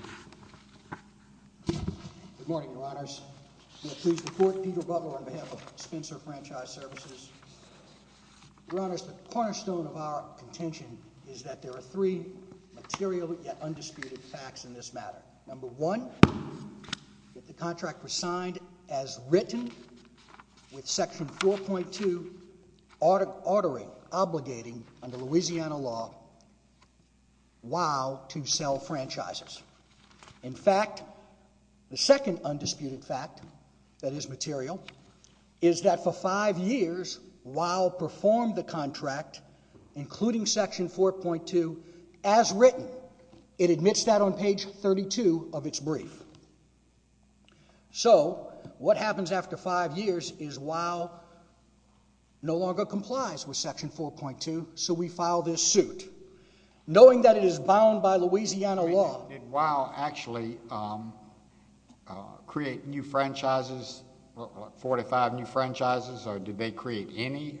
Good morning, Your Honors. May I please report, Peter Butler on behalf of Spencer Franchise Services. Your Honors, the cornerstone of our contention is that there are three material yet undisputed facts in this matter. Number one, that the contract was signed as written with Section 4.2 ordering, obligating under Louisiana law WOW to sell franchises. In fact, the second undisputed fact that is material is that for five years WOW performed the contract, including Section 4.2, as written. It admits that on page 32 of its brief. So, what happens after five years is WOW no longer complies with Section 4.2, so we file this suit. Knowing that it is bound by Louisiana law. Did WOW actually create new franchises, 45 new franchises, or did they create any?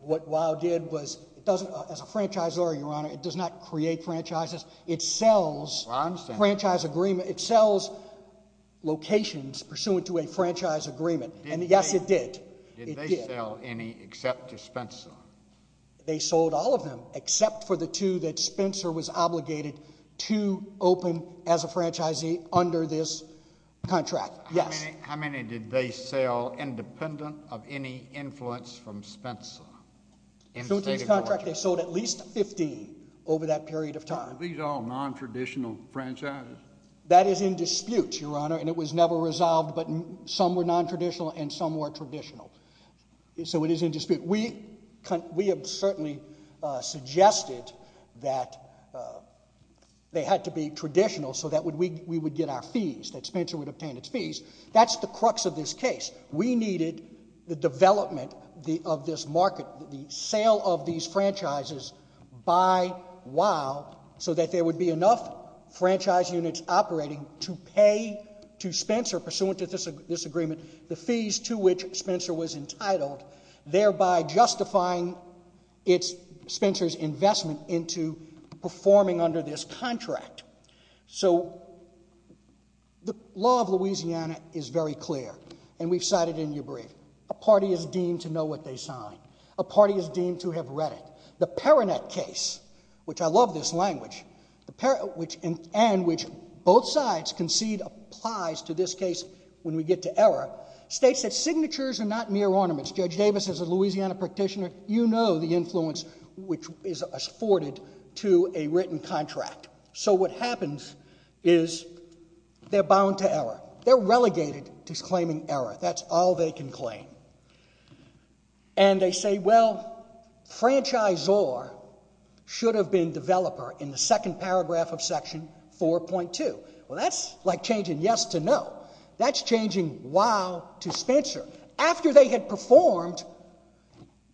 What WOW did was, as a franchisor, Your Honor, it does not create franchises. It sells franchise agreements. It sells locations pursuant to a franchise agreement. Yes, it did. Did they sell any except to Spencer? They sold all of them except for the two that Spencer was obligated to open as a franchisee under this contract. Yes. How many did they sell independent of any influence from Spencer? So, in this contract they sold at least 15 over that period of time. Are these all nontraditional franchises? That is in dispute, Your Honor, and it was never resolved, but some were nontraditional and some were traditional. So, it is in dispute. We have certainly suggested that they had to be traditional so that we would get our fees, that Spencer would obtain its fees. That's the crux of this case. We needed the development of this market, the sale of these franchises by WOW, so that there would be enough franchise units operating to pay to Spencer, pursuant to this agreement, the fees to which Spencer was entitled, thereby justifying Spencer's investment into performing under this contract. So, the law of Louisiana is very clear, and we've cited it in your brief. A party is deemed to know what they sign. A party is deemed to have read it. The Perrinet case, which I love this language, and which both sides concede applies to this case when we get to error, states that signatures are not mere ornaments. Judge Davis, as a Louisiana practitioner, you know the influence which is afforded to a written contract. So, what happens is they're bound to error. They're relegated to claiming error. That's all they can claim. And they say, well, franchisor should have been developer in the second paragraph of section 4.2. Well, that's like changing yes to no. That's changing WOW to Spencer, after they had performed,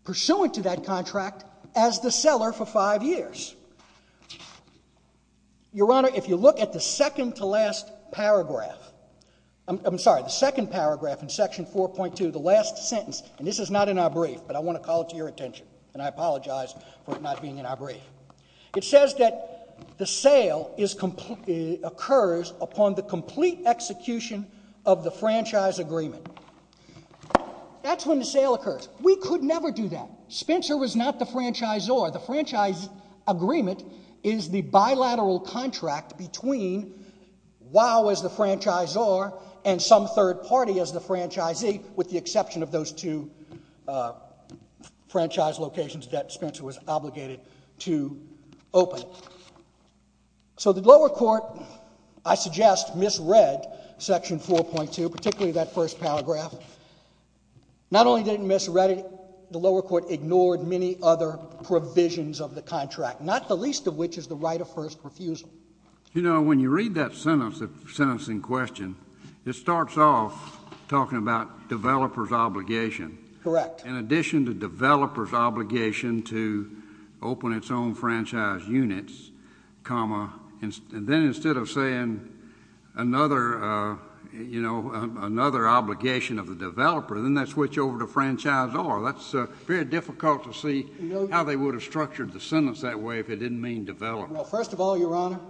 pursuant to that contract, as the seller for five years. Your Honor, if you look at the second to last paragraph, I'm sorry, the second paragraph in section 4.2, the last sentence, and this is not in our brief, but I want to call it to your attention, and I apologize for it not being in our brief. It says that the sale occurs upon the complete execution of the franchise agreement. That's when the sale occurs. We could never do that. Spencer was not the franchisor. The franchise agreement is the bilateral contract between WOW as the franchisor and some third party as the franchisee, with the exception of those two franchise locations that Spencer was obligated to open. So, the lower court, I suggest, misread section 4.2, particularly that first paragraph. Not only did it misread it, the lower court ignored many other provisions of the contract, not the least of which is the right of first refusal. You know, when you read that sentence in question, it starts off talking about developer's obligation. Correct. In addition to developer's obligation to open its own franchise units, comma, and then instead of saying another, you know, another obligation of the developer, then they switch over to franchisor. That's very difficult to see how they would have structured the sentence that way if it didn't mean developer. Well, first of all, Your Honor,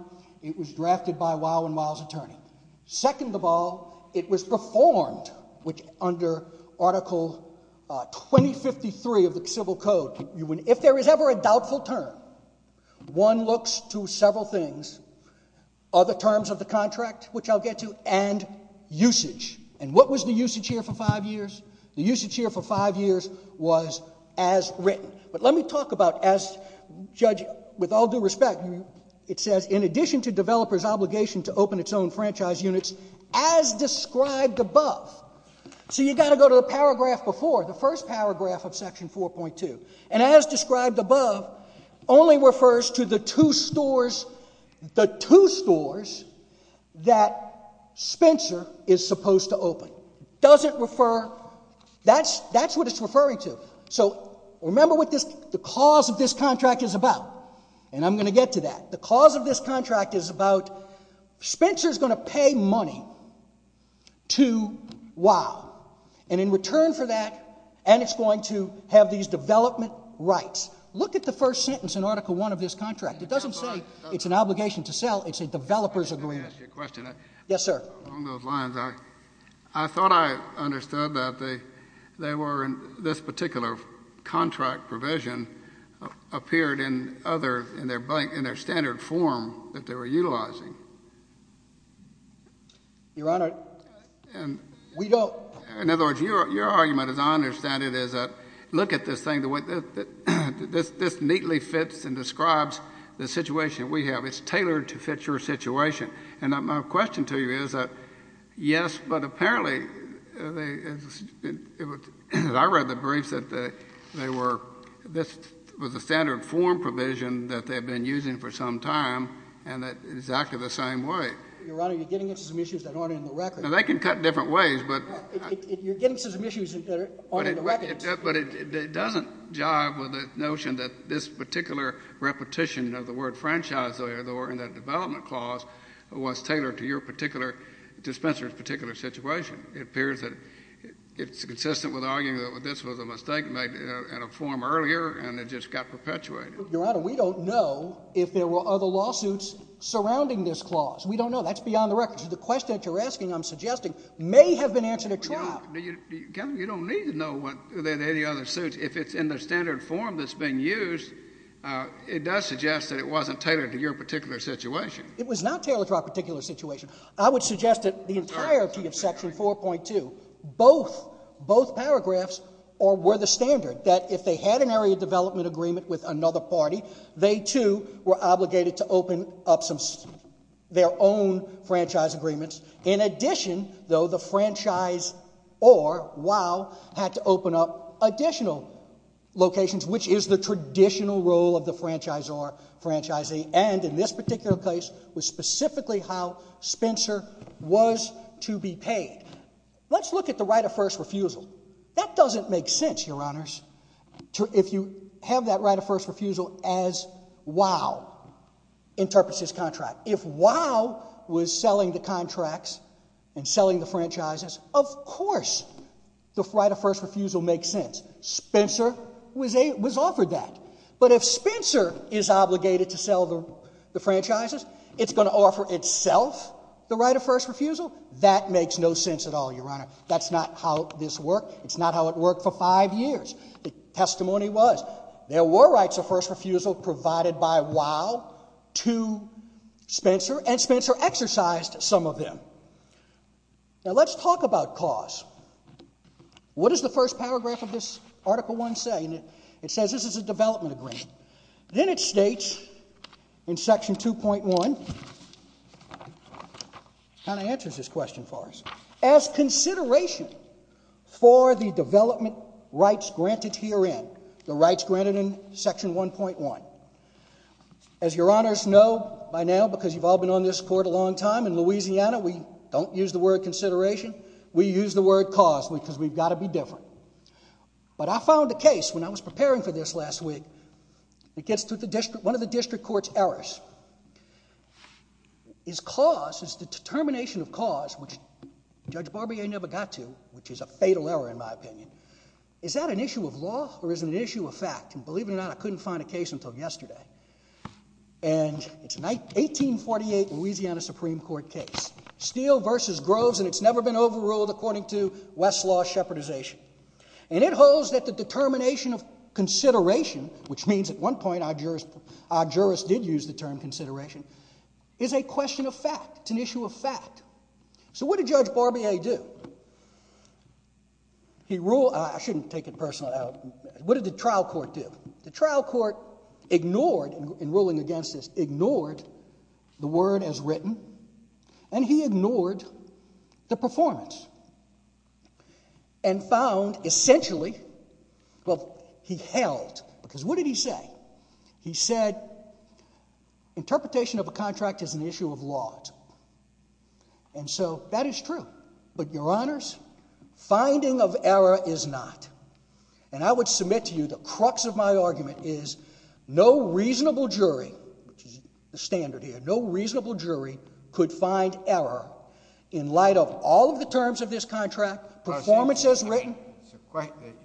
it was drafted by WOW and WOW's attorney. Second of all, it was performed under Article 2053 of the Civil Code. If there is ever a doubtful term, one looks to several things. Other terms of the contract, which I'll get to, and usage. And what was the usage here for five years? The usage here for five years was as written. But let me talk about, as Judge, with all due respect, it says, in addition to developer's obligation to open its own franchise units, as described above. So you've got to go to the paragraph before, the first paragraph of Section 4.2. And as described above, only refers to the two stores, the two stores that Spencer is supposed to open. Doesn't refer, that's what it's referring to. So remember what the cause of this contract is about. And I'm going to get to that. The cause of this contract is about Spencer's going to pay money to WOW. And in return for that, and it's going to have these development rights. Look at the first sentence in Article 1 of this contract. It doesn't say it's an obligation to sell. It's a developer's agreement. Let me ask you a question. Yes, sir. Along those lines, I thought I understood that they were in this particular contract provision, appeared in other, in their standard form that they were utilizing. Your Honor, we don't. In other words, your argument, as I understand it, is look at this thing, this neatly fits and describes the situation we have. It's tailored to fit your situation. And my question to you is, yes, but apparently, as I read the briefs, that they were, this was a standard form provision that they had been using for some time, and that's exactly the same way. Your Honor, you're getting into some issues that aren't in the record. Now, they can cut different ways, but. You're getting into some issues that aren't in the record. But it doesn't jive with the notion that this particular repetition of the word franchise lawyer, the word in that development clause, was tailored to your particular, to Spencer's particular situation. It appears that it's consistent with arguing that this was a mistake made in a form earlier, and it just got perpetuated. Your Honor, we don't know if there were other lawsuits surrounding this clause. We don't know. That's beyond the record. So the question that you're asking, I'm suggesting, may have been answered at trial. Kevin, you don't need to know than any other suits. If it's in the standard form that's being used, it does suggest that it wasn't tailored to your particular situation. It was not tailored to our particular situation. I would suggest that the entirety of Section 4.2, both paragraphs were the standard, that if they had an area development agreement with another party, they too were obligated to open up their own franchise agreements. In addition, though, the franchise or, wow, had to open up additional locations, which is the traditional role of the franchisee. The end in this particular case was specifically how Spencer was to be paid. Let's look at the right of first refusal. That doesn't make sense, Your Honors, if you have that right of first refusal as, wow, interprets his contract. If wow was selling the contracts and selling the franchises, of course the right of first refusal makes sense. Spencer was offered that. But if Spencer is obligated to sell the franchises, it's going to offer itself the right of first refusal? That makes no sense at all, Your Honor. That's not how this worked. It's not how it worked for five years. The testimony was there were rights of first refusal provided by wow to Spencer, and Spencer exercised some of them. Now, let's talk about cause. What does the first paragraph of this Article I say? It says this is a development agreement. Then it states in Section 2.1, kind of answers this question for us, as consideration for the development rights granted herein, the rights granted in Section 1.1. As Your Honors know by now because you've all been on this Court a long time, in Louisiana we don't use the word consideration. We use the word cause because we've got to be different. But I found a case when I was preparing for this last week. It gets to one of the district court's errors. Is cause, is the determination of cause, which Judge Barbier never got to, which is a fatal error in my opinion, is that an issue of law or is it an issue of fact? And believe it or not, I couldn't find a case until yesterday. And it's an 1848 Louisiana Supreme Court case. Steele v. Groves, and it's never been overruled according to Westlaw's shepherdization. And it holds that the determination of consideration, which means at one point our jurists did use the term consideration, is a question of fact. It's an issue of fact. So what did Judge Barbier do? He ruled... I shouldn't take it personally. What did the trial court do? The trial court ignored, in ruling against this, ignored the word as written. And he ignored the performance. And found, essentially, well, he held. Because what did he say? He said, interpretation of a contract is an issue of law. And so that is true. But, Your Honors, finding of error is not. And I would submit to you the crux of my argument is no reasonable jury, which is the standard here, no reasonable jury could find error in light of all of the terms of this contract, performance as written.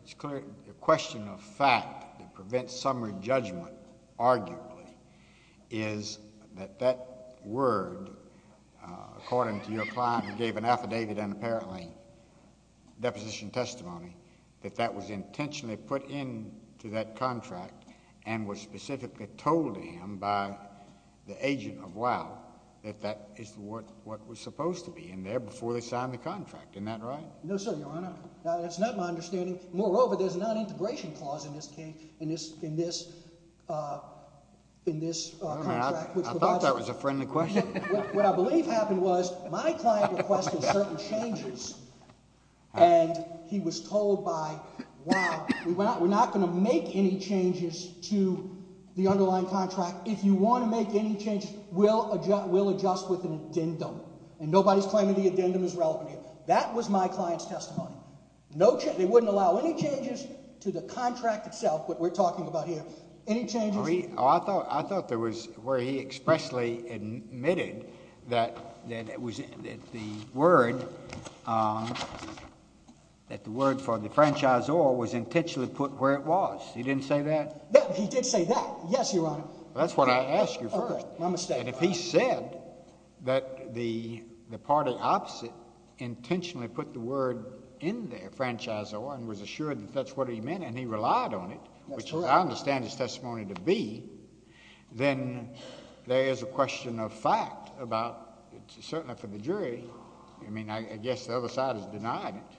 It's clear the question of fact that prevents summary judgment, arguably, is that that word, according to your client who gave an affidavit and apparently deposition testimony, that that was intentionally put into that contract and was specifically told to him by the agent of WOW that that is what was supposed to be in there before they signed the contract. Isn't that right? No, sir, Your Honor. That's not my understanding. Moreover, there's a non-integration clause in this case, in this contract. I thought that was a friendly question. What I believe happened was my client requested certain changes and he was told by WOW, we're not going to make any changes to the underlying contract. If you want to make any changes, we'll adjust with an addendum. And nobody's claiming the addendum is relevant here. That was my client's testimony. They wouldn't allow any changes to the contract itself, what we're talking about here. Any changes? I thought there was where he expressly admitted that the word for the franchisor was intentionally put where it was. He didn't say that? No, he did say that. Yes, Your Honor. That's what I asked you first. My mistake. And if he said that the party opposite intentionally put the word in there, franchisor, and was assured that that's what he meant and he relied on it, which I understand his testimony to be, then there is a question of fact about it, certainly for the jury. I mean, I guess the other side has denied it.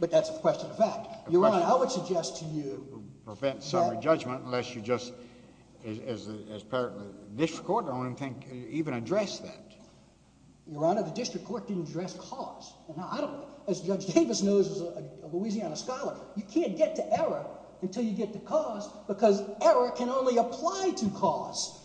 But that's a question of fact. Your Honor, I would suggest to you... Prevent summary judgment unless you just, as part of the district court, don't even address that. Your Honor, the district court didn't address cause. As Judge Davis knows as a Louisiana scholar, you can't get to error until you get to cause because error can only apply to cause.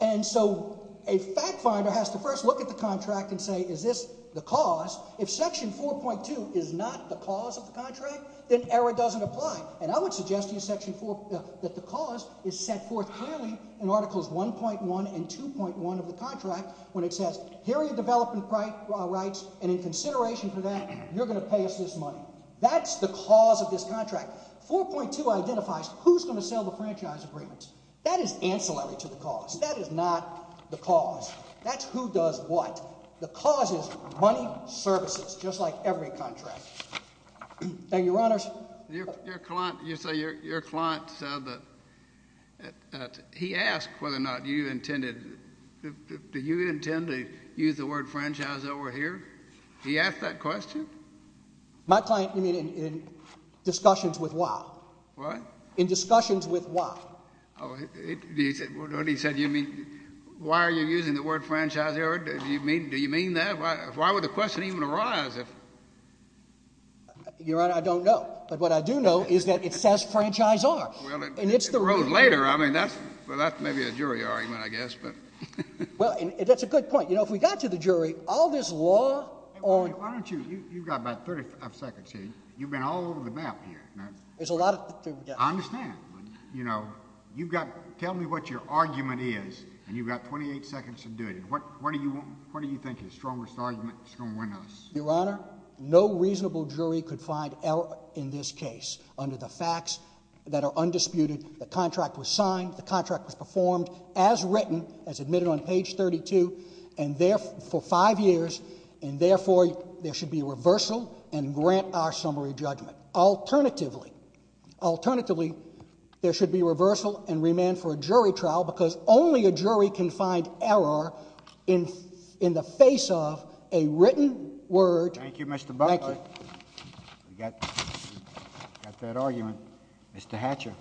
And so a fact finder has to first look at the contract and say, is this the cause? If Section 4.2 is not the cause of the contract, then error doesn't apply. And I would suggest to you that the cause is set forth clearly in Articles 1.1 and 2.1 of the contract when it says, here are your development rights, and in consideration for that you're going to pay us this money. That's the cause of this contract. 4.2 identifies who's going to sell the franchise agreements. That is ancillary to the cause. That is not the cause. That's who does what. The cause is money, services, just like every contract. Thank you, Your Honors. Your client said that he asked whether or not you intended... Do you intend to use the word franchise over here? He asked that question? My client, you mean in discussions with why? What? In discussions with why. Oh, what he said, you mean, why are you using the word franchise over here? Do you mean that? Why would the question even arise? Your Honor, I don't know. But what I do know is that it says franchise R. Well, it grows later. I mean, that's maybe a jury argument, I guess. Well, that's a good point. You know, if we got to the jury, all this law on... Why don't you, you've got about 35 seconds here. You've been all over the map here. There's a lot to... I understand, but, you know, you've got... Tell me what your argument is, and you've got 28 seconds to do it. What do you think is the strongest argument that's going to win us? Your Honor, no reasonable jury could find error in this case under the facts that are undisputed. The contract was signed, the contract was performed, as written, as admitted on page 32, for five years, and, therefore, there should be reversal and grant our summary judgment. Alternatively, alternatively, there should be reversal and remand for a jury trial because only a jury can find error in the face of a written word... Thank you, Mr. Buckley. We've got that argument. Mr. Hatcher.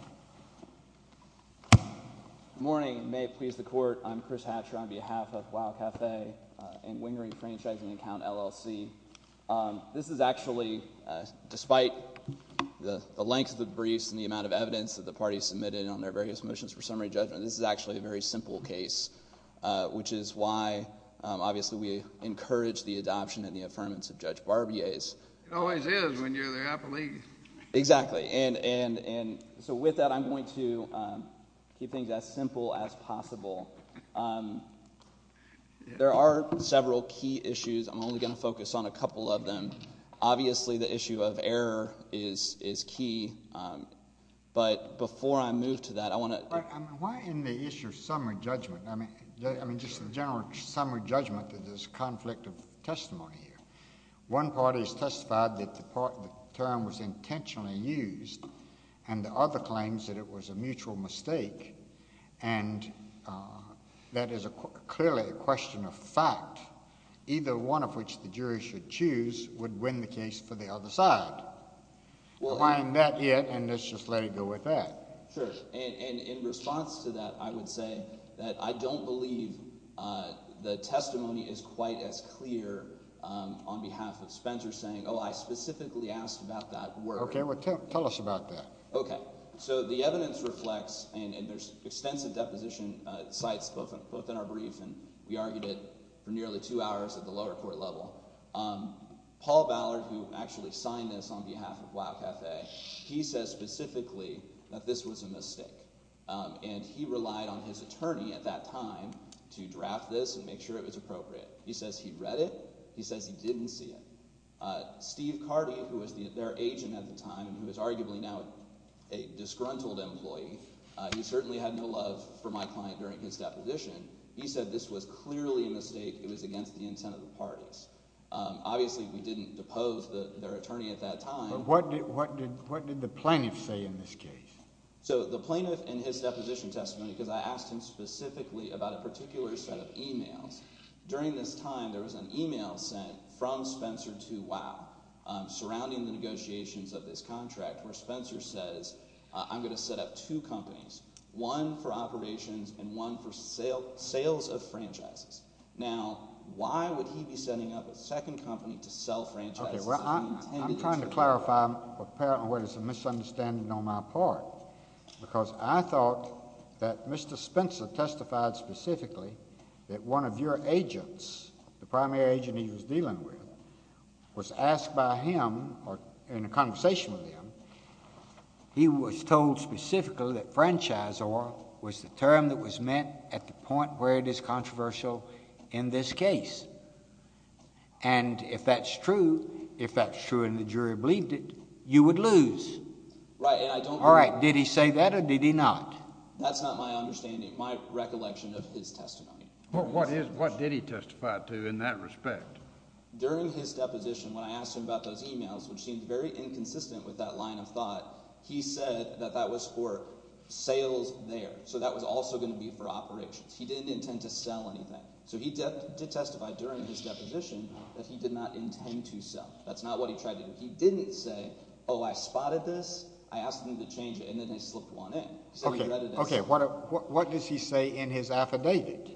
Good morning, and may it please the Court. I'm Chris Hatcher on behalf of WOW Cafe and Wingering Franchising Account, LLC. This is actually, despite the length of the briefs and the amount of evidence that the parties submitted on their various motions for summary judgment, this is actually a very simple case, which is why, obviously, we encourage the adoption and the affirmance of Judge Barbier's... It always is when you're there, I believe. Exactly, and so with that, I'm going to keep things as simple as possible. There are several key issues. I'm only going to focus on a couple of them. Obviously, the issue of error is key, but before I move to that, I want to... But why in the issue of summary judgment? I mean, just the general summary judgment that there's conflict of testimony here. One party has testified that the term was intentionally used, and the other claims that it was a mutual mistake, and that is clearly a question of fact. Either one of which the jury should choose would win the case for the other side. Combine that here, and let's just let it go with that. Sure, and in response to that, I would say that I don't believe the testimony is quite as clear on behalf of Spencer saying, oh, I specifically asked about that word. Okay, well, tell us about that. Okay, so the evidence reflects, and there's extensive deposition sites both in our brief, and we argued it for nearly two hours at the lower court level. Paul Ballard, who actually signed this on behalf of Wow Cafe, he says specifically that this was a mistake, and he relied on his attorney at that time to draft this and make sure it was appropriate. He says he read it. He says he didn't see it. Steve Carty, who was their agent at the time and who is arguably now a disgruntled employee, he certainly had no love for my client during his deposition. He said this was clearly a mistake. It was against the intent of the parties. Obviously, we didn't depose their attorney at that time. But what did the plaintiff say in this case? So the plaintiff in his deposition testimony, because I asked him specifically about a particular set of e-mails, during this time there was an e-mail that was sent from Spencer to Wow surrounding the negotiations of this contract where Spencer says, I'm going to set up two companies, one for operations and one for sales of franchises. Now, why would he be setting up a second company to sell franchises? I'm trying to clarify what is apparently a misunderstanding on my part because I thought that Mr. Spencer testified specifically that one of your agents, the primary agent he was dealing with, was asked by him, or in a conversation with him, he was told specifically that franchisor was the term that was meant at the point where it is controversial in this case. And if that's true, if that's true and the jury believed it, you would lose. All right, did he say that or did he not? That's not my understanding, my recollection of his testimony. What did he testify to in that respect? During his deposition, when I asked him about those emails, which seemed very inconsistent with that line of thought, he said that that was for sales there. So that was also going to be for operations. He didn't intend to sell anything. So he did testify during his deposition that he did not intend to sell. That's not what he tried to do. He didn't say, oh, I spotted this, I asked him to change it, and then he slipped one in. Okay, what does he say in his affidavit?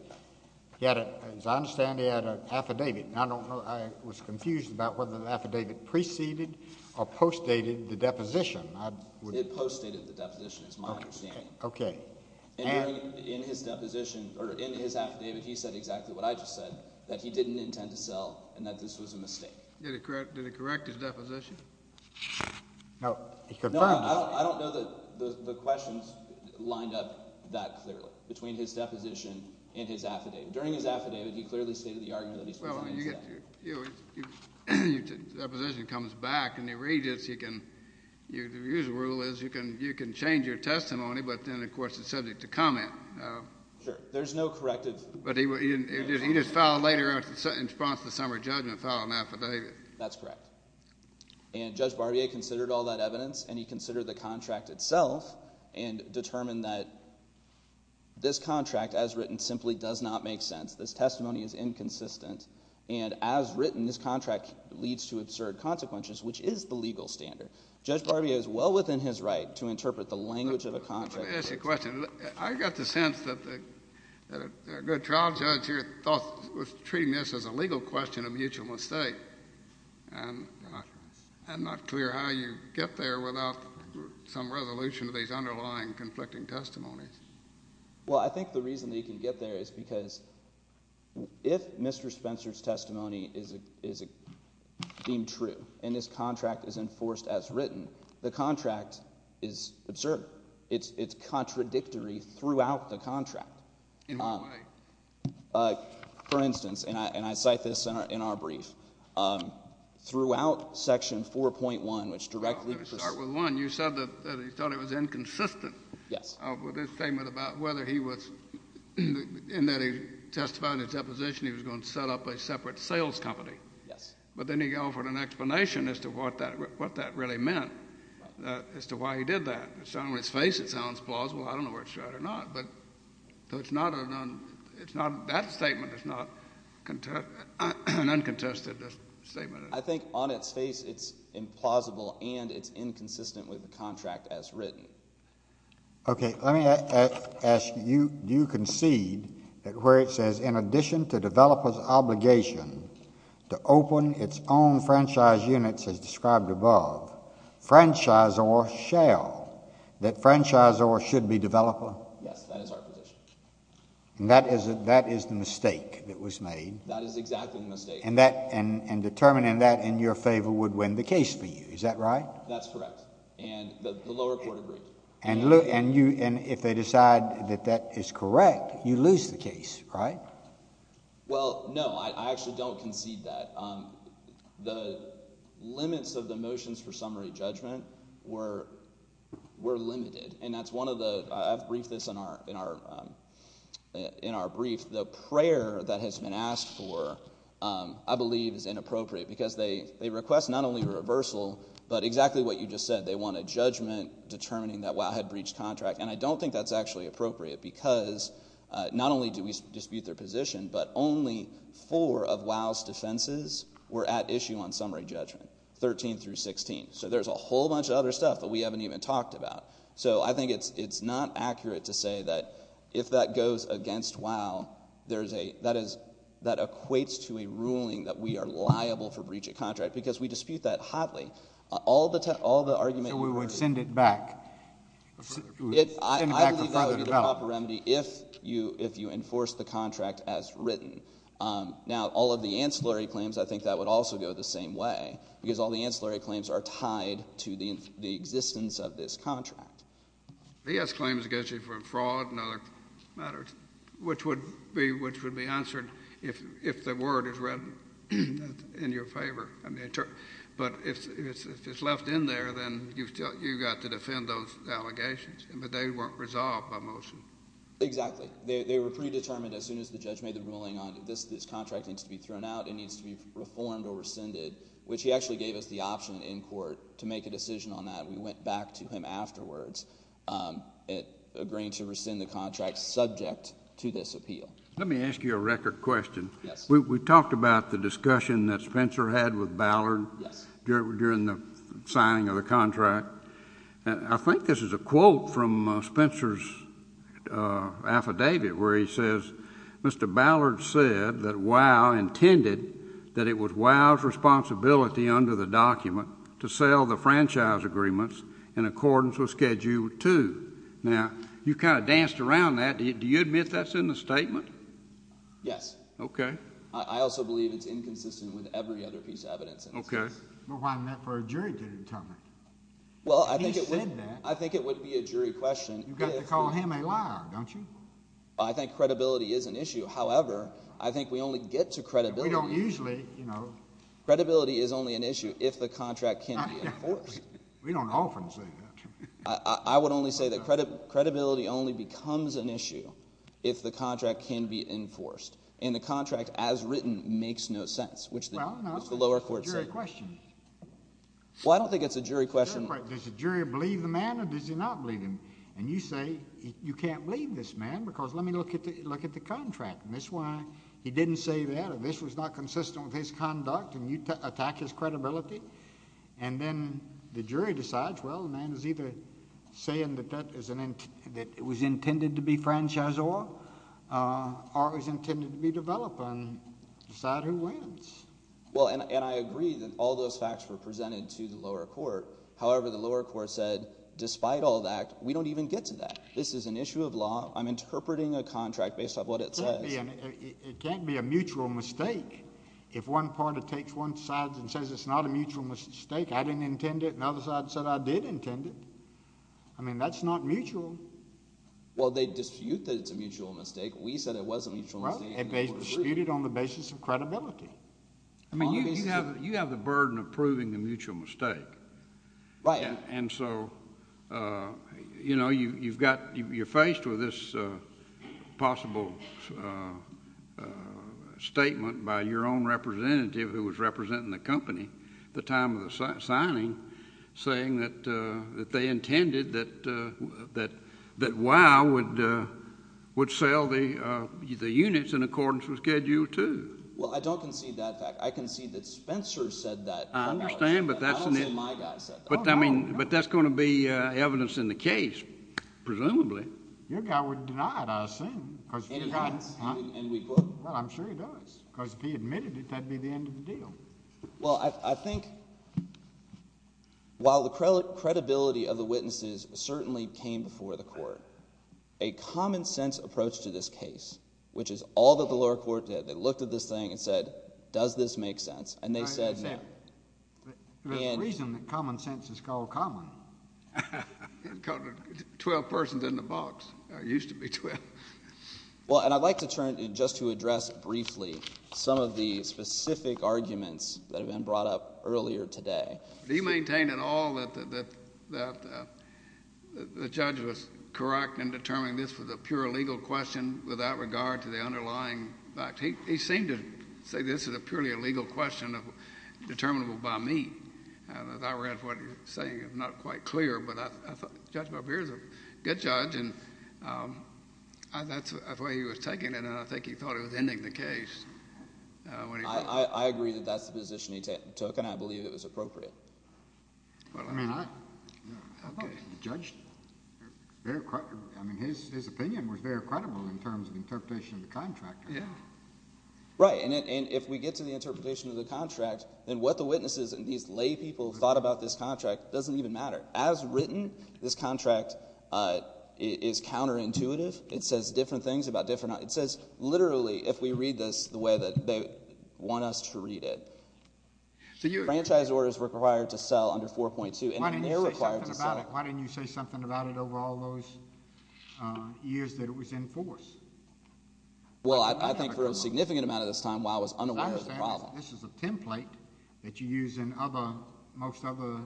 As I understand, he had an affidavit. I was confused about whether the affidavit preceded or postdated the deposition. It postdated the deposition, is my understanding. Okay. In his affidavit, he said exactly what I just said, that he didn't intend to sell and that this was a mistake. Did he correct his deposition? No, he confirmed it. I don't know that the questions lined up that clearly between his deposition and his affidavit. During his affidavit, he clearly stated the argument that he was going to sell. Your deposition comes back, and the rule is you can change your testimony, but then, of course, it's subject to comment. Sure, there's no corrective. But he just filed later in response to the summary judgment, filed an affidavit. That's correct. And Judge Barbier considered all that evidence, and he considered the contract itself and determined that this contract, as written, simply does not make sense. This testimony is inconsistent, and as written, this contract leads to absurd consequences, which is the legal standard. Judge Barbier is well within his right to interpret the language of a contract. Let me ask you a question. I got the sense that a good trial judge here was treating this as a legal question, a mutual mistake, and not clear how you get there without some resolution to these underlying conflicting testimonies. Well, I think the reason that you can get there is because if Mr. Spencer's testimony is deemed true and his contract is enforced as written, the contract is absurd. It's contradictory throughout the contract. In what way? For instance, and I cite this in our brief, throughout Section 4.1, which directly... Let me start with one. You said that he thought it was inconsistent... Yes. ...with his statement about whether he was... in that he testified in his deposition he was going to set up a separate sales company. Yes. But then he offered an explanation as to what that really meant, as to why he did that. It's not on his face it sounds plausible. I don't know whether it's right or not. So it's not... That statement is not an uncontested statement. I think on its face it's implausible and it's inconsistent with the contract as written. Okay, let me ask you, do you concede that where it says, in addition to developers' obligation to open its own franchise units as described above, franchisor shall, that franchisor should be developer? Yes, that is our position. And that is the mistake that was made. That is exactly the mistake. And determining that in your favor would win the case for you, is that right? That's correct. And the lower court agreed. And if they decide that that is correct, you lose the case, right? Well, no, I actually don't concede that. The limits of the motions for summary judgment were limited. And that's one of the... I've briefed this in our brief. The prayer that has been asked for, I believe, is inappropriate. Because they request not only a reversal, but exactly what you just said. They want a judgment determining that WoW had breached contract. And I don't think that's actually appropriate because not only do we dispute their position, but only four of WoW's defenses were at issue on summary judgment, 13 through 16. So there's a whole bunch of other stuff that we haven't even talked about. So I think it's not accurate to say that if that goes against WoW, that equates to a ruling that we are liable for breach of contract. Because we dispute that hotly. All the argument... So we would send it back? I believe that would be the proper remedy if you enforce the contract as written. Now, all of the ancillary claims, I think that would also go the same way. Because all the ancillary claims are tied to the existence of this contract. He has claims against you for fraud and other matters, which would be answered if the word is read in your favor. But if it's left in there, then you've got to defend those allegations. But they weren't resolved by motion. Exactly. They were predetermined as soon as the judge made the ruling on this contract needs to be thrown out and needs to be reformed or rescinded, which he actually gave us the option in court to make a decision on that. We went back to him afterwards agreeing to rescind the contract subject to this appeal. Let me ask you a record question. We talked about the discussion that Spencer had with Ballard during the signing of the contract. I think this is a quote from Spencer's affidavit where he says, Mr. Ballard said that WoW intended that it was WoW's responsibility under the document to sell the franchise agreements in accordance with Schedule 2. Now, you kind of danced around that. Do you admit that's in the statement? Yes. Okay. I also believe it's inconsistent with every other piece of evidence in this case. Okay. Well, why isn't that for a jury to determine? He said that. I think it would be a jury question. You've got to call him a liar, don't you? I think credibility is an issue. However, I think we only get to credibility when we don't usually, you know. Credibility is only an issue if the contract can be enforced. We don't often say that. I would only say that credibility only becomes an issue if the contract can be enforced, and the contract as written makes no sense, which the lower court said. Well, no, it's a jury question. Well, I don't think it's a jury question. Does the jury believe the man or does he not believe him? And you say you can't believe this man because let me look at the contract. That's why he didn't say that. If this was not consistent with his conduct and you attack his credibility, and then the jury decides, well, the man is either saying that it was intended to be franchisor or it was intended to be developer and decide who wins. Well, and I agree that all those facts were presented to the lower court. However, the lower court said, despite all that, we don't even get to that. This is an issue of law. I'm interpreting a contract based on what it says. It can't be a mutual mistake if one party takes one side and says it's not a mutual mistake, I didn't intend it, and the other side said I did intend it. I mean, that's not mutual. Well, they dispute that it's a mutual mistake. We said it was a mutual mistake. And they dispute it on the basis of credibility. I mean, you have the burden of proving a mutual mistake. Right. And so, you know, you've got, you're faced with this possible statement by your own representative who was representing the company at the time of the signing saying that they intended that WOW would sell the units in accordance with Schedule 2. Well, I don't concede that fact. I concede that Spencer said that. I understand, but that's... I don't say my guy said that. But that's going to be evidence in the case, presumably. Your guy would deny it, I assume. Any chance? Well, I'm sure he does. Because if he admitted it, that'd be the end of the deal. Well, I think while the credibility of the witnesses certainly came before the court, a common-sense approach to this case, which is all that the lower court did, they looked at this thing and said, does this make sense? And they said no. There's a reason that common sense is called common. 12 persons in the box. There used to be 12. Well, and I'd like to turn just to address briefly some of the specific arguments that have been brought up earlier today. Do you maintain at all that the judge was correct in determining this was a pure legal question without regard to the underlying facts? He seemed to say this is a purely legal question determinable by me. As I read what he was saying, it's not quite clear, but I thought the judge up here is a good judge, and that's the way he was taking it, and I think he thought he was ending the case. I agree that that's the position he took, and I believe it was appropriate. Well, I mean, I don't think the judge, I mean, his opinion was very credible in terms of the interpretation of the contractor. Yeah. Right, and if we get to the interpretation of the contract, then what the witnesses and these lay people thought about this contract doesn't even matter. As written, this contract is counterintuitive. It says different things about different... It says, literally, if we read this the way that they want us to read it. Franchise orders were required to sell under 4.2, and they're required to sell. Why didn't you say something about it over all those years that it was in force? Well, I think for a significant amount of this time, I was unaware of the problem. This is a template that you use in other, most other...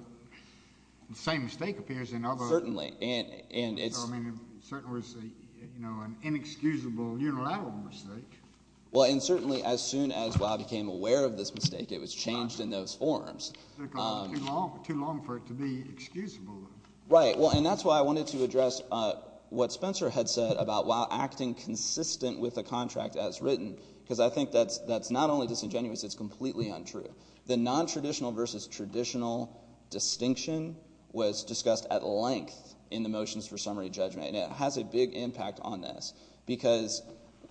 The same mistake appears in other... Certainly, and it's... I mean, in certain words, you know, an inexcusable unilateral mistake. Well, and certainly as soon as Wow became aware of this mistake, it was changed in those forms. It took a little too long for it to be excusable. Right, well, and that's why I wanted to address what Spencer had said about Wow acting consistent with the contract as written, because I think that's not only disingenuous, it's completely untrue. The nontraditional versus traditional distinction was discussed at length in the motions for summary judgment, and it has a big impact on this because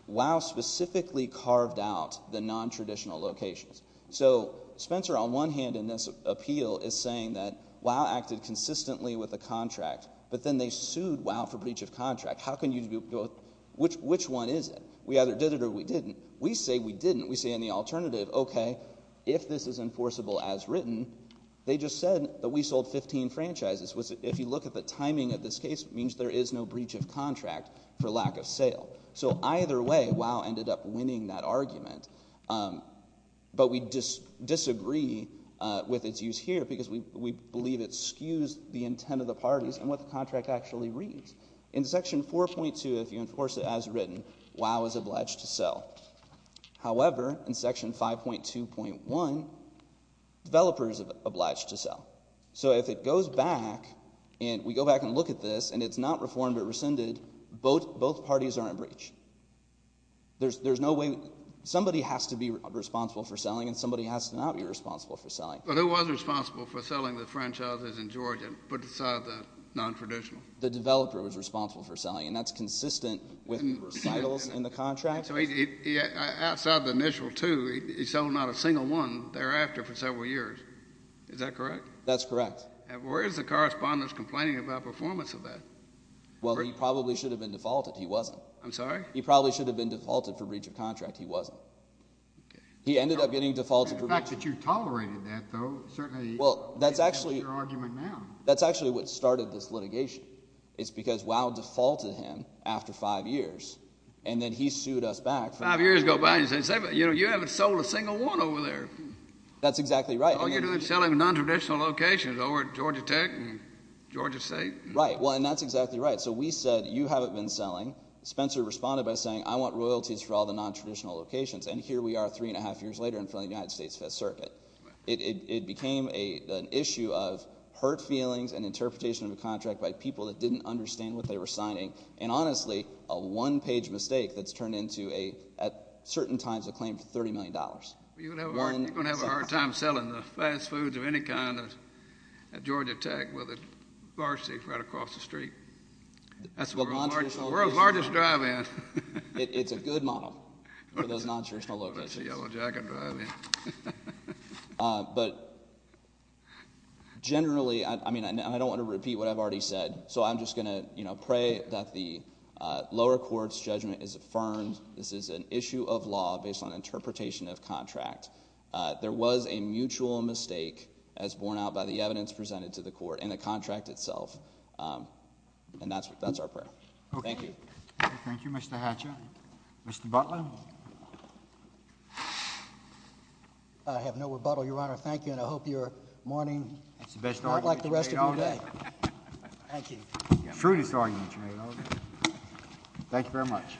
Wow specifically carved out the nontraditional locations. So Spencer, on one hand, in this appeal, is saying that Wow acted consistently with the contract, but then they sued Wow for breach of contract. How can you... Which one is it? We either did it or we didn't. We say we didn't. We say in the alternative, okay, if this is enforceable as written, they just said that we sold 15 franchises. If you look at the timing of this case, it means there is no breach of contract for lack of sale. So either way, Wow ended up winning that argument. But we disagree with its use here because we believe it skews the intent of the parties and what the contract actually reads. In Section 4.2, if you enforce it as written, Wow is obliged to sell. However, in Section 5.2.1, developers are obliged to sell. So if it goes back, and we go back and look at this, and it's not reformed or rescinded, both parties are in breach. There's no way... Somebody has to be responsible for selling, and somebody has to not be responsible for selling. But who was responsible for selling the franchises in Georgia put aside the nontraditional? The developer was responsible for selling, and that's consistent with recitals in the contract. So outside the initial two, he sold not a single one thereafter for several years. Is that correct? That's correct. Where is the correspondence complaining about performance of that? Well, he probably should have been defaulted. He wasn't. I'm sorry? He probably should have been defaulted for breach of contract. He wasn't. Okay. He ended up getting defaulted for breach of contract. The fact that you tolerated that, though, certainly... Well, that's actually... That's your argument now. That's actually what started this litigation. It's because Wow defaulted him after five years, and then he sued us back for... Five years ago. You haven't sold a single one over there. That's exactly right. All you're doing is selling nontraditional locations over at Georgia Tech and Georgia State. Right. Well, and that's exactly right. So we said, you haven't been selling. Spencer responded by saying, I want royalties for all the nontraditional locations. And here we are three and a half years later in front of the United States Fifth Circuit. It became an issue of hurt feelings and interpretation of a contract by people that didn't understand what they were signing. And honestly, a one-page mistake that's turned into a, at certain times, a claim for $30 million. You're going to have a hard time selling the fast foods of any kind at Georgia Tech with a bar seat right across the street. That's the world's largest drive-in. It's a good model for those nontraditional locations. That's a Yellow Jacket drive-in. But generally, I mean, I don't want to repeat what I've already said. So I'm just going to pray that the lower court's judgment is affirmed. This is an issue of law based on interpretation of contract. There was a mutual mistake as borne out by the evidence presented to the court and the contract itself. And that's our prayer. Thank you. Thank you, Mr. Hatcher. Mr. Butler. I have no rebuttal, Your Honor. Thank you, and I hope your morning is not like the rest of your day. True disargument, Your Honor. Thank you very much.